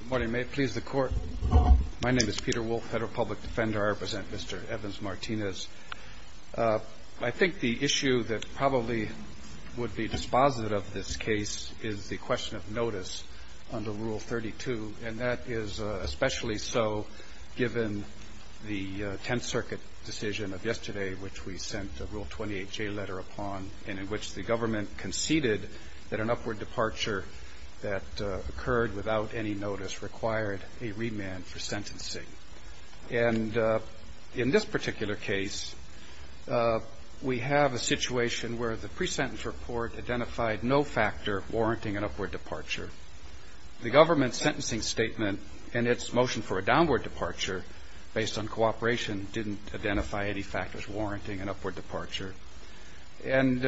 Good morning. May it please the Court. My name is Peter Wolf, Federal Public Defender. I represent Mr. Evans-Martinez. I think the issue that probably would be dispositive of this case is the question of notice under Rule 32. And that is especially so given the Tenth Circuit decision of yesterday, which we sent a Rule 28J letter upon, in which the government conceded that an upward departure that occurred without any notice required a remand for sentencing. And in this particular case, we have a situation where the pre-sentence report identified no factor warranting an upward departure. The government's sentencing statement and its motion for a downward departure, based on cooperation, didn't identify any factors warranting an upward departure. And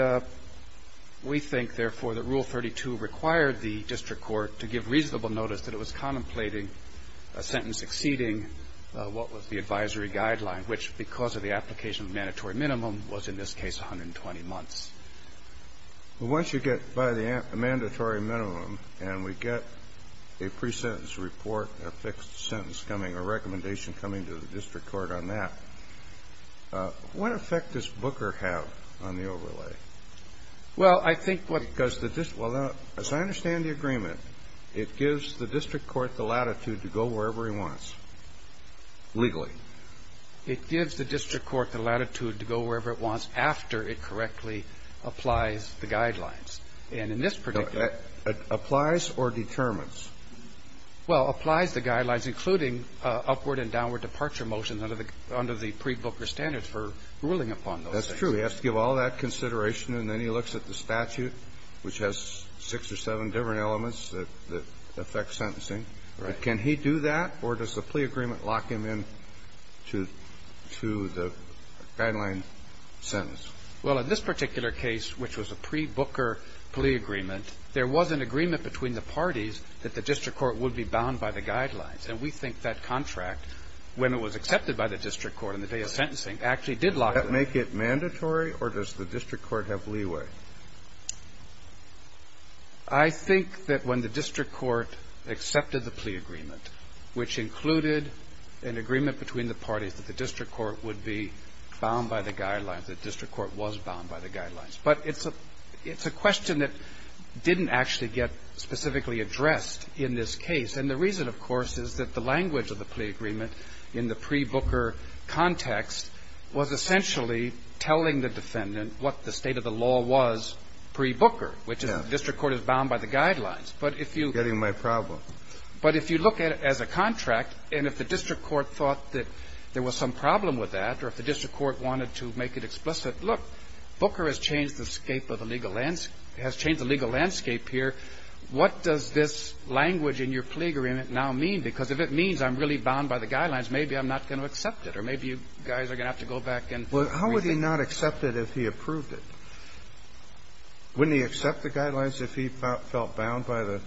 we think, therefore, that Rule 32 required the district court to give reasonable notice that it was contemplating a sentence exceeding what was the advisory guideline, which, because of the application of mandatory minimum, was in this case 120 months. Well, once you get by the mandatory minimum and we get a pre-sentence report, a fixed sentence coming, a recommendation coming to the district court on that, what effect does Booker have on the overlay? Well, I think what the district court has to say is, well, as I understand the agreement, it gives the district court the latitude to go wherever he wants legally. It gives the district court the latitude to go wherever it wants after it correctly applies the guidelines. And in this particular case, it applies or determines? Well, applies the guidelines, including upward and downward departure motions under the pre-Booker standards for ruling upon those things. That's true. He has to give all that consideration, and then he looks at the statute, which has six or seven different elements that affect sentencing. Right. Can he do that, or does the plea agreement lock him in to the guideline sentence? Well, in this particular case, which was a pre-Booker plea agreement, there was an agreement between the parties that the district court would be bound by the guidelines. And we think that contract, when it was accepted by the district court on the day of sentencing, actually did lock him in. Does that make it mandatory, or does the district court have leeway? I think that when the district court accepted the plea agreement, which included an agreement between the parties that the district court would be bound by the guidelines, the district court was bound by the guidelines. But it's a question that didn't actually get specifically addressed in this case. And the reason, of course, is that the language of the plea agreement in the pre-Booker context was essentially telling the defendant what the state of the law was pre-Booker, which is the district court is bound by the guidelines. But if you look at it as a contract, and if the district court thought that there was some problem with that, or if the district court wanted to make it explicit, look, Booker has changed the legal landscape here. What does this language in your plea agreement now mean? Because if it means I'm really bound by the guidelines, maybe I'm not going to accept it, or maybe you guys are going to have to go back and rethink it. Well, how would he not accept it if he approved it? Wouldn't he accept the guidelines if he felt bound by the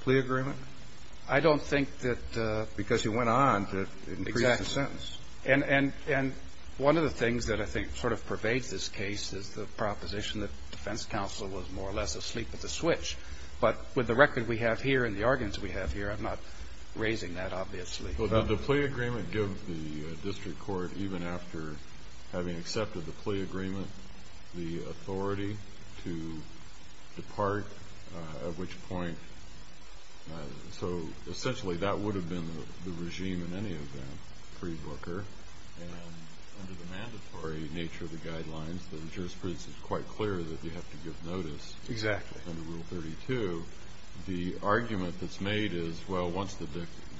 plea agreement? I don't think that because he went on to increase the sentence. Exactly. And one of the things that I think sort of pervades this case is the proposition that defense counsel was more or less asleep at the switch. But with the record we have here and the arguments we have here, I'm not raising that, obviously. Well, did the plea agreement give the district court, even after having accepted the plea agreement, the authority to depart, at which point? So essentially that would have been the regime in any event pre-Booker. And under the mandatory nature of the guidelines, the jurisprudence is quite clear that you have to give notice. Exactly. Under Rule 32. The argument that's made is, well, once the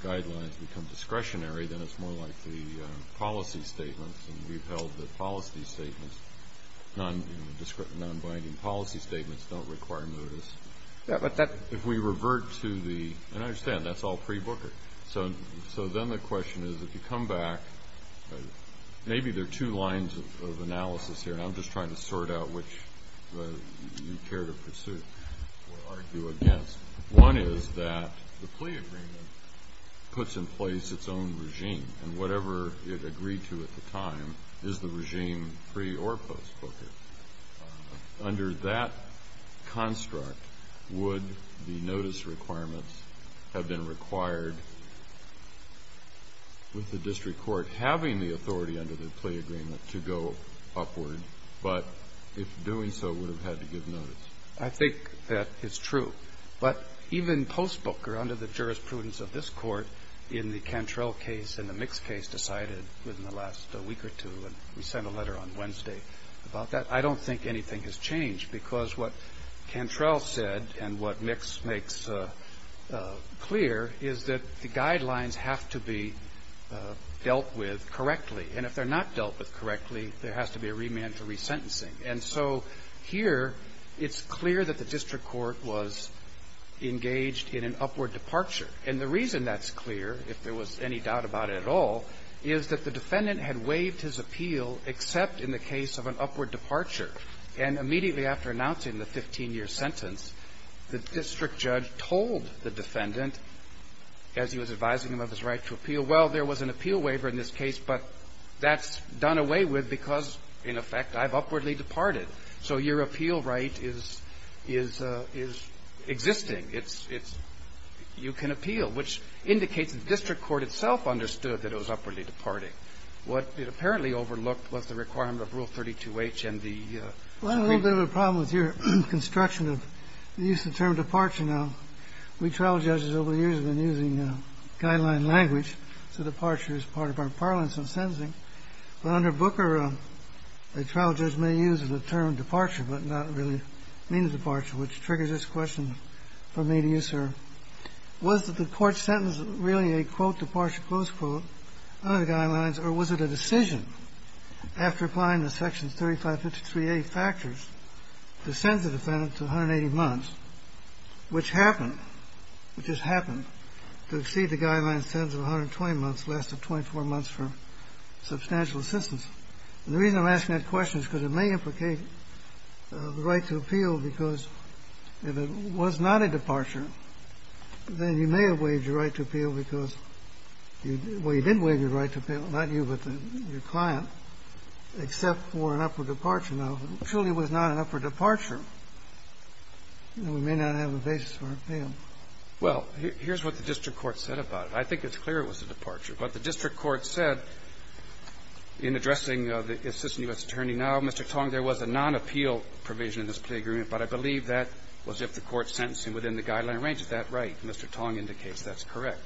guidelines become discretionary, then it's more likely policy statements, and we've held that policy statements, non-binding policy statements don't require notice. If we revert to the ñ and I understand that's all pre-Booker. So then the question is, if you come back, maybe there are two lines of analysis here, and I'm just trying to sort out which you care to pursue or argue against. One is that the plea agreement puts in place its own regime, and whatever it agreed to at the time is the regime pre- or post-Booker. Under that construct, would the notice requirements have been required with the district court having the authority under the plea agreement to go upward, but if doing so would have had to give notice? I think that is true. But even post-Booker, under the jurisprudence of this Court, in the Cantrell case and the Mix case decided within the last week or two, and we sent a letter on Wednesday about that, I don't think anything has changed because what Cantrell said and what Mix makes clear is that the guidelines have to be dealt with correctly, and if they're not dealt with correctly, there has to be a remand for resentencing. And so here it's clear that the district court was engaged in an upward departure. And the reason that's clear, if there was any doubt about it at all, is that the defendant had waived his appeal except in the case of an upward departure. And immediately after announcing the 15-year sentence, the district judge told the defendant, as he was advising him of his right to appeal, well, there was an appeal waiver in this case, but that's done away with because, in effect, I've upwardly departed. So your appeal right is existing. It's you can appeal, which indicates the district court itself understood that it was upwardly departing. What it apparently overlooked was the requirement of Rule 32H and the ---- Well, I have a little bit of a problem with your construction of the use of the term departure now. We trial judges over the years have been using guideline language, so departure is part of our parlance in sentencing. But under Booker, a trial judge may use the term departure but not really mean departure, which triggers this question for me to you, sir. Was the court's sentence really a, quote, departure, close quote, under the guidelines, or was it a decision after applying the section 3553A factors to send the defendant to 180 months, which happened, which has happened, to exceed the guideline sentence of 120 months, lasted 24 months for substantial assistance? And the reason I'm asking that question is because it may implicate the right to appeal because if it was not a departure, then you may have waived your right to appeal because you didn't waive your right to appeal, not you, but your client, except for an upward departure. Now, if it truly was not an upward departure, then we may not have a basis for appeal. Well, here's what the district court said about it. I think it's clear it was a departure. But the district court said in addressing the assistant U.S. attorney now, Mr. Tong, there was a non-appeal provision in this plea agreement, but I believe that was if the court sentenced him within the guideline range. Is that right? Mr. Tong indicates that's correct.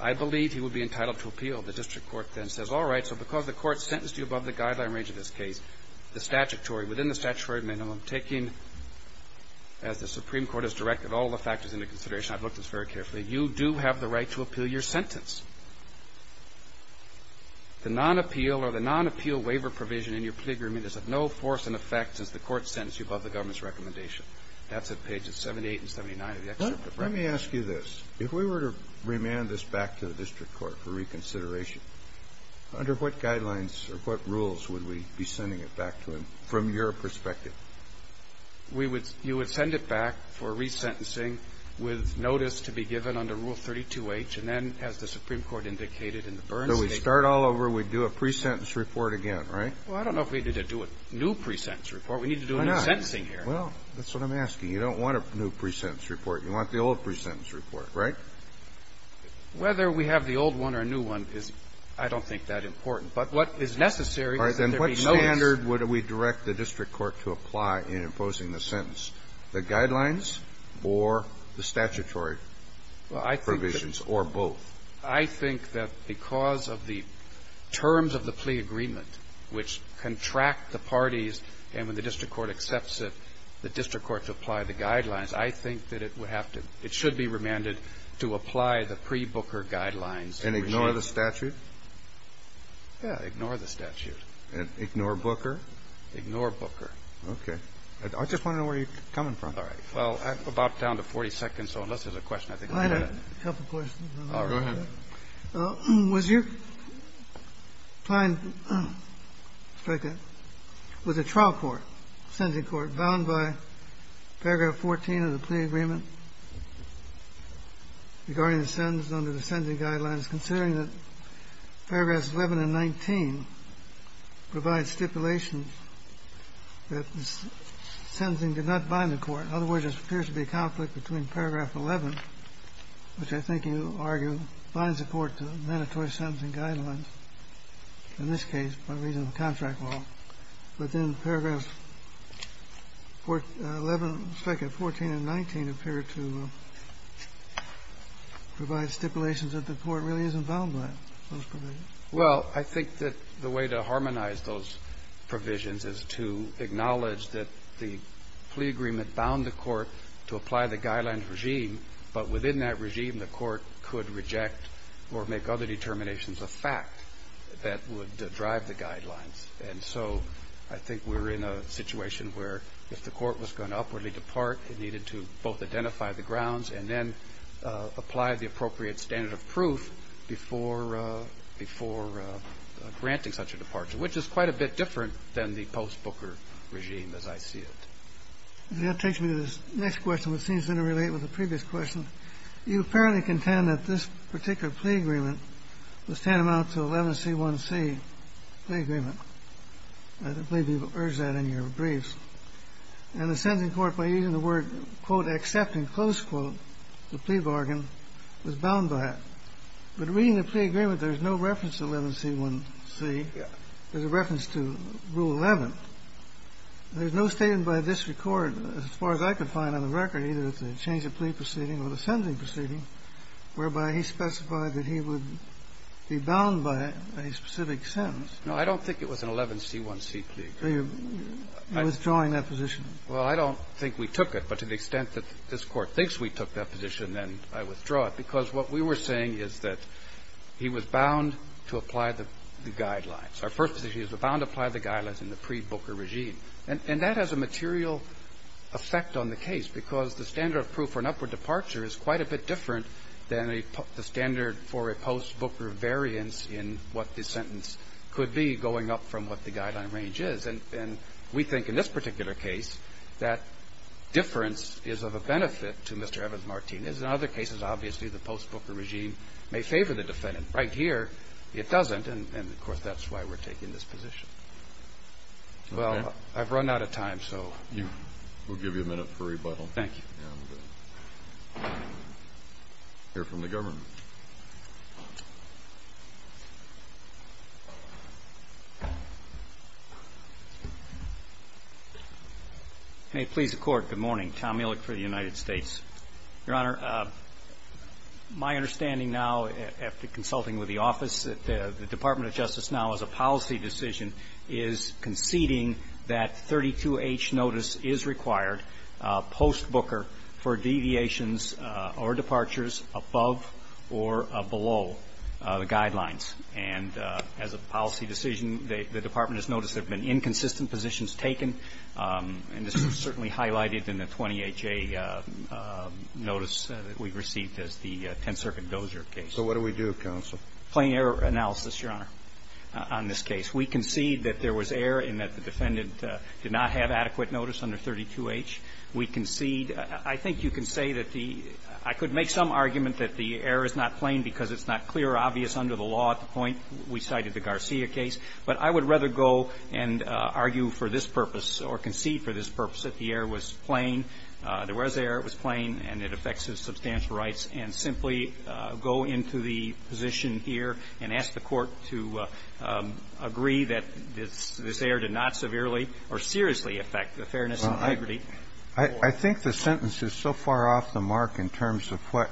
I believe he would be entitled to appeal. The district court then says, all right, so because the court sentenced you above the guideline range in this case, the statutory, within the statutory minimum, taking as the Supreme Court has directed all the factors into consideration – I've looked at this very carefully – you do have the right to appeal your sentence. The non-appeal or the non-appeal waiver provision in your plea agreement is of no force in effect since the court sentenced you above the government's recommendation. That's at pages 78 and 79 of the excerpt. Let me ask you this. If we were to remand this back to the district court for reconsideration, under what guidelines or what rules would we be sending it back to him from your perspective? You would send it back for resentencing with notice to be given under Rule 32H, and then, as the Supreme Court indicated in the Burns case – So we start all over. We do a pre-sentence report again, right? Well, I don't know if we need to do a new pre-sentence report. We need to do a new sentencing here. Why not? Well, that's what I'm asking. You don't want a new pre-sentence report. You want the old pre-sentence report, right? Whether we have the old one or a new one is, I don't think, that important. But what is necessary is that there be notice. All right. Then what standard would we direct the district court to apply in imposing the sentence, the guidelines or the statutory provisions or both? I think that because of the terms of the plea agreement, which contract the parties and when the district court accepts it, the district court to apply the guidelines, I think that it would have to – it should be remanded to apply the pre-Booker guidelines regime. And ignore the statute? Yeah. Ignore the statute. And ignore Booker? Ignore Booker. Okay. I just want to know where you're coming from. All right. Well, I'm about down to 40 seconds, so unless there's a question, I think I'm going to ask a couple questions. All right. Go ahead. Was your client – was a trial court, sentencing court, bound by paragraph 14 of the plea agreement regarding the sentence under the sentencing guidelines, considering that paragraphs 11 and 19 provide stipulations that the sentencing did not bind the which I think you argue binds the court to mandatory sentencing guidelines. In this case, by reason of contract law. But then paragraphs 11, 14, and 19 appear to provide stipulations that the court really isn't bound by those provisions. Well, I think that the way to harmonize those provisions is to acknowledge that the plea agreement bound the court to apply the guidelines regime, but within that regime, the court could reject or make other determinations a fact that would drive the guidelines. And so I think we're in a situation where if the court was going to upwardly depart, it needed to both identify the grounds and then apply the appropriate standard of proof before granting such a departure, which is quite a bit different than the post-Booker regime as I see it. That takes me to the next question, which seems to interrelate with the previous question. You apparently contend that this particular plea agreement was tantamount to 11C1C plea agreement. I believe you've urged that in your briefs. And the sentencing court, by using the word, quote, except in close quote, the plea bargain, was bound by that. But reading the plea agreement, there's no reference to 11C1C. There's a reference to Rule 11. There's no statement by this Court, as far as I could find on the record, either the change of plea proceeding or the sentencing proceeding, whereby he specified that he would be bound by a specific sentence. No, I don't think it was an 11C1C plea agreement. You're withdrawing that position. Well, I don't think we took it. But to the extent that this Court thinks we took that position, then I withdraw it, because what we were saying is that he was bound to apply the guidelines. Our first position is he was bound to apply the guidelines in the pre-Booker regime. And that has a material effect on the case, because the standard of proof for an upward departure is quite a bit different than the standard for a post-Booker variance in what the sentence could be going up from what the guideline range is. And we think in this particular case that difference is of a benefit to Mr. Evans-Martinez. In other cases, obviously, the post-Booker regime may favor the defendant. Right here, it doesn't. And, of course, that's why we're taking this position. Okay. Well, I've run out of time, so. We'll give you a minute for rebuttal. Thank you. And we'll hear from the government. May it please the Court, good morning. Tom Ehrlich for the United States. Your Honor, my understanding now, after consulting with the office, that the Department of Justice now, as a policy decision, is conceding that 32H notice is required post-Booker for deviations or departures above or below the guidelines. And as a policy decision, the Department has noticed there have been inconsistent positions taken, and this is certainly highlighted in the 20HA notice that we've received as the Tenth Circuit Dozier case. So what do we do, counsel? Plain error analysis, Your Honor, on this case. We concede that there was error in that the defendant did not have adequate notice under 32H. We concede – I think you can say that the – I could make some argument that the error is not plain because it's not clear or obvious under the law at the point we cited the Garcia case. But I would rather go and argue for this purpose or concede for this purpose that the error was plain, there was error, it was plain, and it affects his substantial rights, and simply go into the position here and ask the Court to agree that this error did not severely or seriously affect the fairness and liberty. Well, I think the sentence is so far off the mark in terms of what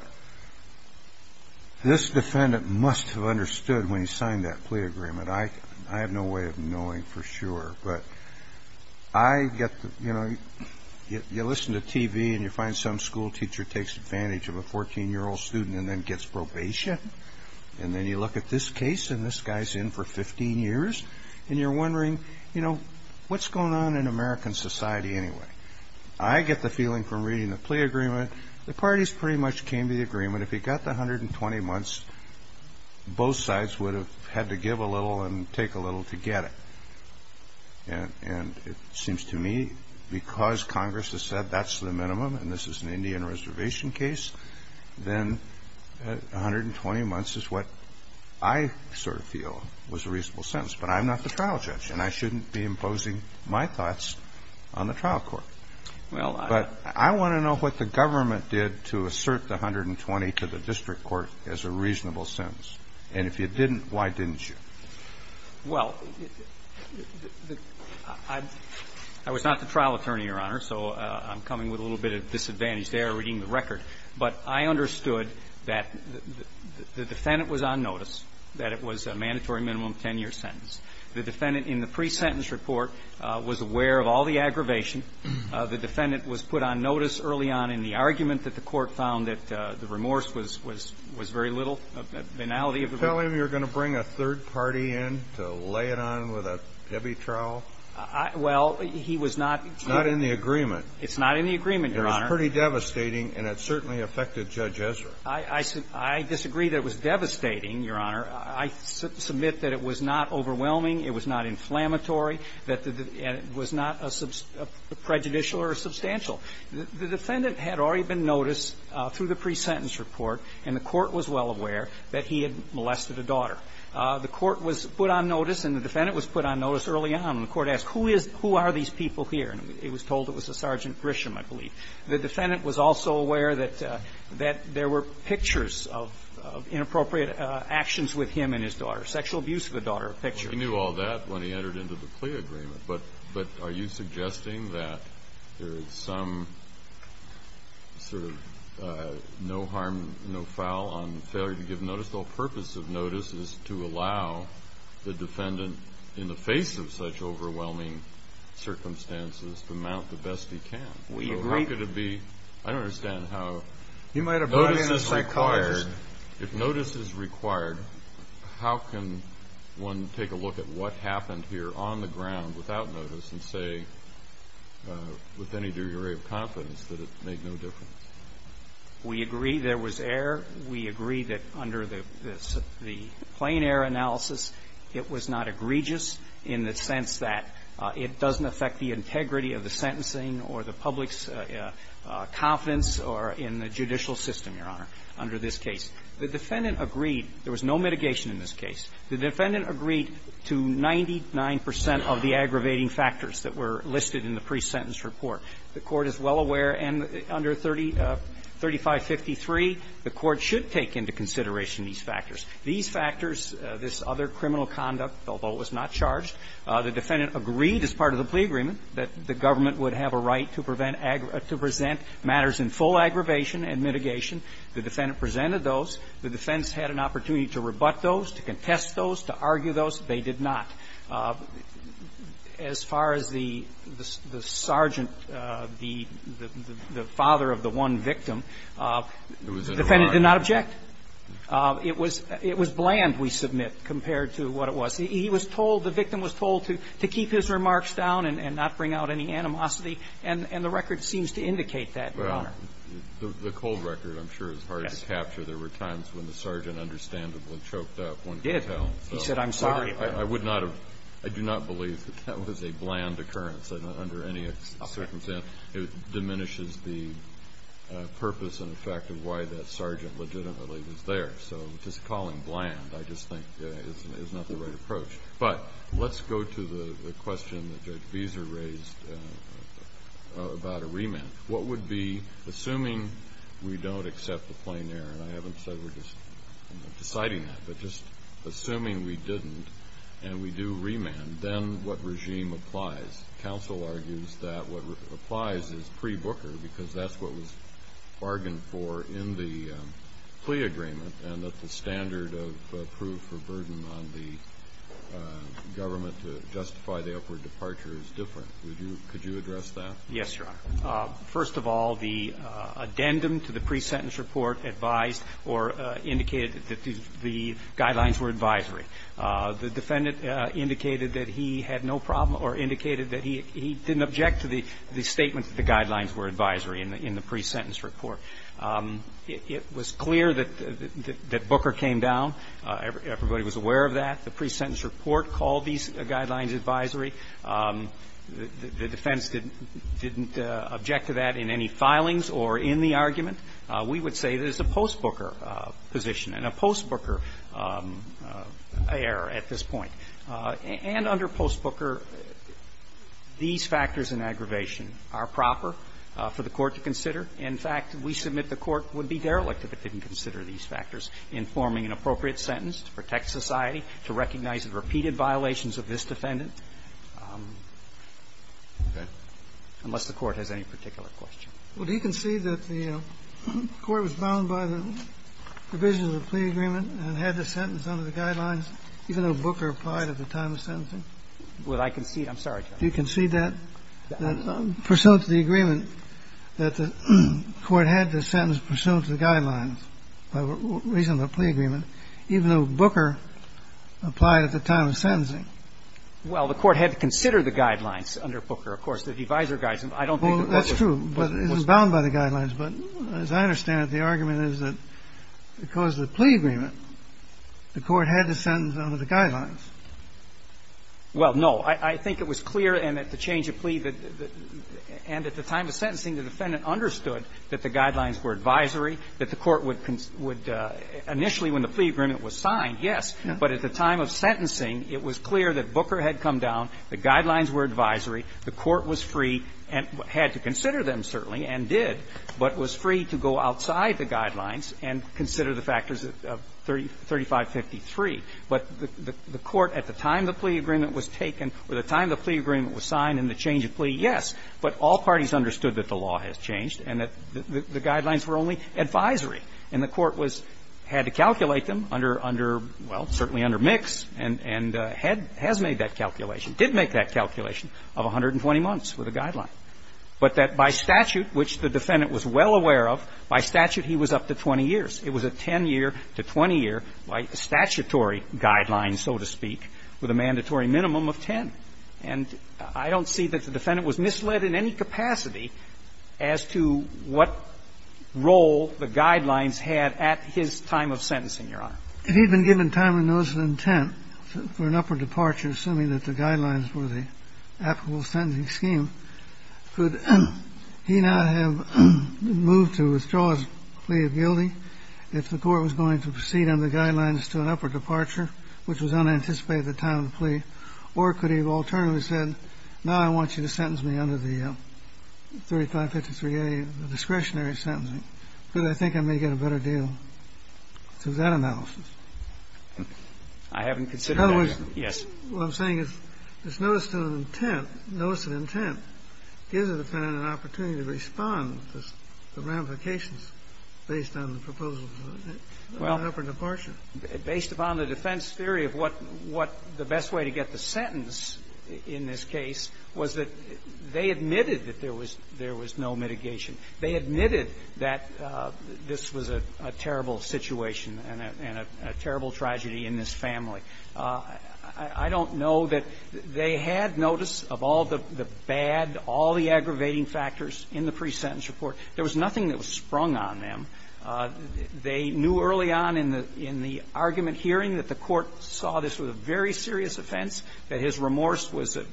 this defendant must have understood when he signed that plea agreement. I have no way of knowing for sure. But I get – you know, you listen to TV and you find some school teacher takes advantage of a 14-year-old student and then gets probation, and then you look at this case and this guy's in for 15 years, and you're wondering, you know, what's going on in American society anyway? I get the feeling from reading the plea agreement, the parties pretty much came to the agreement. I mean, if he got the 120 months, both sides would have had to give a little and take a little to get it. And it seems to me because Congress has said that's the minimum and this is an Indian reservation case, then 120 months is what I sort of feel was a reasonable sentence. But I'm not the trial judge, and I shouldn't be imposing my thoughts on the trial court. But I want to know what the government did to assert the 120 to the district court as a reasonable sentence. And if you didn't, why didn't you? Well, I was not the trial attorney, Your Honor, so I'm coming with a little bit of disadvantage there reading the record. But I understood that the defendant was on notice, that it was a mandatory minimum 10-year sentence. The defendant in the pre-sentence report was aware of all the aggravation. The defendant was put on notice early on in the argument that the court found that the remorse was very little, banality of remorse. Tell him you're going to bring a third party in to lay it on with a debby trial? Well, he was not. It's not in the agreement. It's not in the agreement, Your Honor. It was pretty devastating, and it certainly affected Judge Ezra. I disagree that it was devastating, Your Honor. I submit that it was not overwhelming, it was not inflammatory, and it was not prejudicial or substantial. The defendant had already been noticed through the pre-sentence report, and the court was well aware that he had molested a daughter. The court was put on notice and the defendant was put on notice early on. And the court asked, who are these people here? And it was told it was a Sergeant Grisham, I believe. The defendant was also aware that there were pictures of inappropriate actions with him and his daughter, sexual abuse of a daughter, pictures. He knew all that when he entered into the plea agreement. But are you suggesting that there is some sort of no harm, no foul on failure to give notice? The whole purpose of notice is to allow the defendant, in the face of such overwhelming circumstances, to mount the best he can. We agree. So how could it be? I don't understand how notice is required. If notice is required, how can one take a look at what happened here on the ground without notice and say with any degree of confidence that it made no difference? We agree there was error. We agree that under the plain error analysis, it was not egregious in the sense that it doesn't affect the integrity of the sentencing or the public's confidence or in the judicial system, Your Honor, under this case. The defendant agreed. There was no mitigation in this case. The defendant agreed to 99 percent of the aggravating factors that were listed in the pre-sentence report. The Court is well aware, and under 3553, the Court should take into consideration these factors. These factors, this other criminal conduct, although it was not charged, the defendant agreed as part of the plea agreement that the government would have a right to prevent and to present matters in full aggravation and mitigation. The defendant presented those. The defense had an opportunity to rebut those, to contest those, to argue those. They did not. As far as the sergeant, the father of the one victim, the defendant did not object. It was bland, we submit, compared to what it was. He was told, the victim was told to keep his remarks down and not bring out any animosity. And the record seems to indicate that, Your Honor. Well, the cold record, I'm sure, is hard to capture. There were times when the sergeant understandably choked up, one could tell. He did. He said, I'm sorry. I would not have – I do not believe that that was a bland occurrence under any circumstance. It diminishes the purpose and effect of why that sergeant legitimately was there. So just calling bland, I just think, is not the right approach. But let's go to the question that Judge Beeser raised about a remand. What would be, assuming we don't accept the plain error, and I haven't said we're just deciding that, but just assuming we didn't and we do remand, then what regime applies? Counsel argues that what applies is pre-Booker, because that's what was bargained for in the plea agreement and that the standard of proof or burden on the government to justify the upward departure is different. Could you address that? Yes, Your Honor. First of all, the addendum to the pre-sentence report advised or indicated that the guidelines were advisory. The defendant indicated that he had no problem or indicated that he didn't object to the statement that the guidelines were advisory in the pre-sentence report. It was clear that Booker came down. Everybody was aware of that. The pre-sentence report called these guidelines advisory. The defense didn't object to that in any filings or in the argument. We would say there's a post-Booker position and a post-Booker error at this point. And under post-Booker, these factors in aggravation are proper for the Court to consider. In fact, we submit the Court would be derelict if it didn't consider these factors in forming an appropriate sentence to protect society, to recognize the repeated violations of this defendant. Okay. Unless the Court has any particular question. Well, do you concede that the Court was bound by the provisions of the plea agreement and had the sentence under the guidelines, even though Booker applied at the time of sentencing? Would I concede? I'm sorry, Justice. Do you concede that, pursuant to the agreement, that the Court had to sentence pursuant to the guidelines by reason of the plea agreement, even though Booker applied at the time of sentencing? Well, the Court had to consider the guidelines under Booker. Of course, the advisory guidelines, I don't think that Booker was bound by the guidelines. Well, that's true, but it was bound by the guidelines. But as I understand it, the argument is that because of the plea agreement, the Court had to sentence under the guidelines. Well, no. I think it was clear in the change of plea that the – and at the time of sentencing, the defendant understood that the guidelines were advisory, that the Court would – would initially, when the plea agreement was signed, yes. But at the time of sentencing, it was clear that Booker had come down, the guidelines were advisory, the Court was free and had to consider them, certainly, and did, but was free to go outside the guidelines and consider the factors of 3553. But the Court, at the time the plea agreement was taken or the time the plea agreement was signed and the change of plea, yes. But all parties understood that the law has changed and that the guidelines were only advisory. And the Court was – had to calculate them under, well, certainly under Mix and has made that calculation, did make that calculation of 120 months for the guideline. But that by statute, which the defendant was well aware of, by statute he was up to 20 years. It was a 10-year to 20-year statutory guideline, so to speak, with a mandatory minimum of 10. And I don't see that the defendant was misled in any capacity as to what role the guidelines had at his time of sentencing, Your Honor. If he had been given time and notice of intent for an upward departure, assuming that the guidelines were the applicable sentencing scheme, could he not have moved to withdraw his plea of guilty if the Court was going to proceed on the guidelines to an upward departure, which was unanticipated at the time of the plea? Or could he have alternately said, now I want you to sentence me under the 3553A, the discretionary sentencing, because I think I may get a better deal through that analysis? I haven't considered that, Your Honor. Yes. What I'm saying is this notice of intent, notice of intent, gives the defendant an opportunity to respond to the ramifications based on the proposals of an upward departure. Well, based upon the defense theory of what the best way to get the sentence in this case was that they admitted that there was no mitigation. They admitted that this was a terrible situation and a terrible tragedy in this family. I don't know that they had notice of all the bad, all the aggravating factors in the pre-sentence report. There was nothing that was sprung on them. They knew early on in the argument hearing that the Court saw this was a very serious offense, that his remorse was a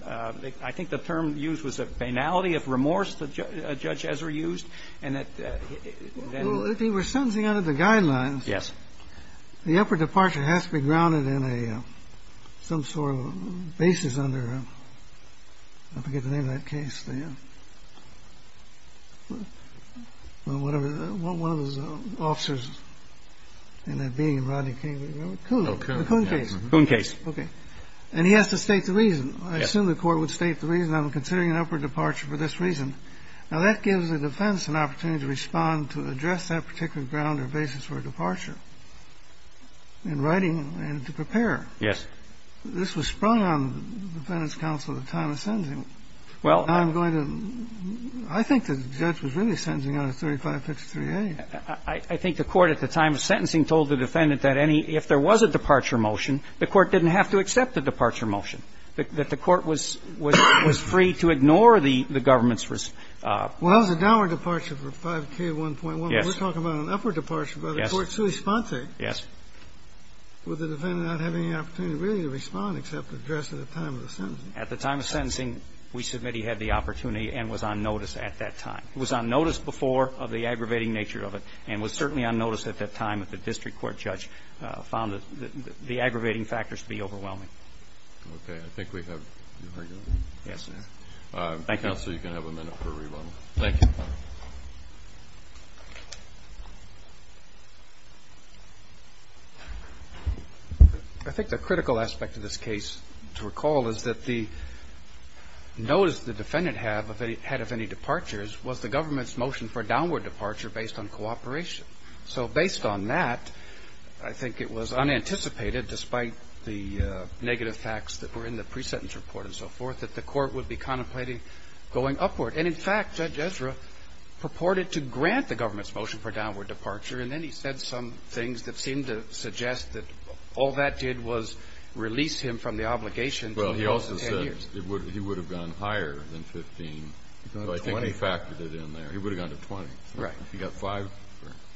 – I think the term used was a banality of remorse that Judge Ezra used, and that then he was sentencing under the guidelines. Yes. The upward departure has to be grounded in a – some sort of basis under – I forget the name of that case, the – whatever – one of those officers in that Bing and Rodney King – remember? Kuhn. Oh, Kuhn. The Kuhn case. Kuhn case. Okay. And he has to state the reason. Yes. I assume the Court would state the reason, I'm considering an upward departure for this reason. Now, that gives the defense an opportunity to respond to address that particular question. If the defendant was to be sentencing under the grounds or basis for a departure in writing and to prepare – Yes. This was sprung on the Defendant's counsel at the time of sentencing. Well, I'm going to – I think the judge was really sentencing under 3553A. I think the Court at the time of sentencing told the defendant that any – if there was a departure motion, the Court didn't have to accept the departure motion, that the Court was – was free to ignore the government's – Well, that was a downward departure for 5K1.1. Yes. We're talking about an upward departure, but the Court still responds to it. Yes. Would the defendant not have any opportunity really to respond except addressed at the time of the sentencing? At the time of sentencing, we submit he had the opportunity and was on notice at that time. He was on notice before of the aggravating nature of it and was certainly on notice at that time that the district court judge found the aggravating factors to be overwhelming. Okay. I think we have your argument. Yes, sir. Thank you. Counsel, you can have a minute for rebuttal. Thank you. I think the critical aspect of this case to recall is that the notice the defendant had of any departures was the government's motion for a downward departure based on cooperation. So based on that, I think it was unanticipated, despite the negative facts that were in the pre-sentence report and so forth, that the Court would be contemplating going upward. And, in fact, Judge Ezra purported to grant the government's motion for a downward departure, and then he said some things that seemed to suggest that all that did was release him from the obligation for the next 10 years. Well, he also said he would have gone higher than 15. So I think he factored it in there. He would have gone to 20. Right. He got five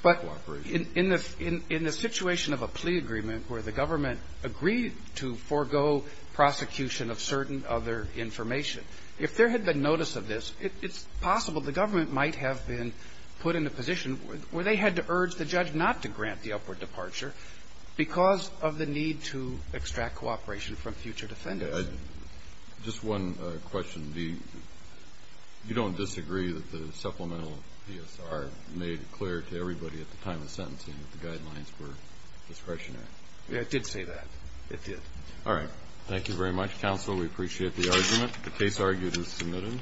for cooperation. But in the situation of a plea agreement where the government agreed to forego prosecution of certain other information, if there had been notice of this, it's possible the government might have been put in a position where they had to urge the judge not to grant the upward departure because of the need to extract cooperation from future defendants. Just one question. You don't disagree that the supplemental PSR made clear to everybody at the time of sentencing that the guidelines were discretionary? It did say that. It did. All right. Thank you very much, counsel. We appreciate the argument. The case argued is submitted.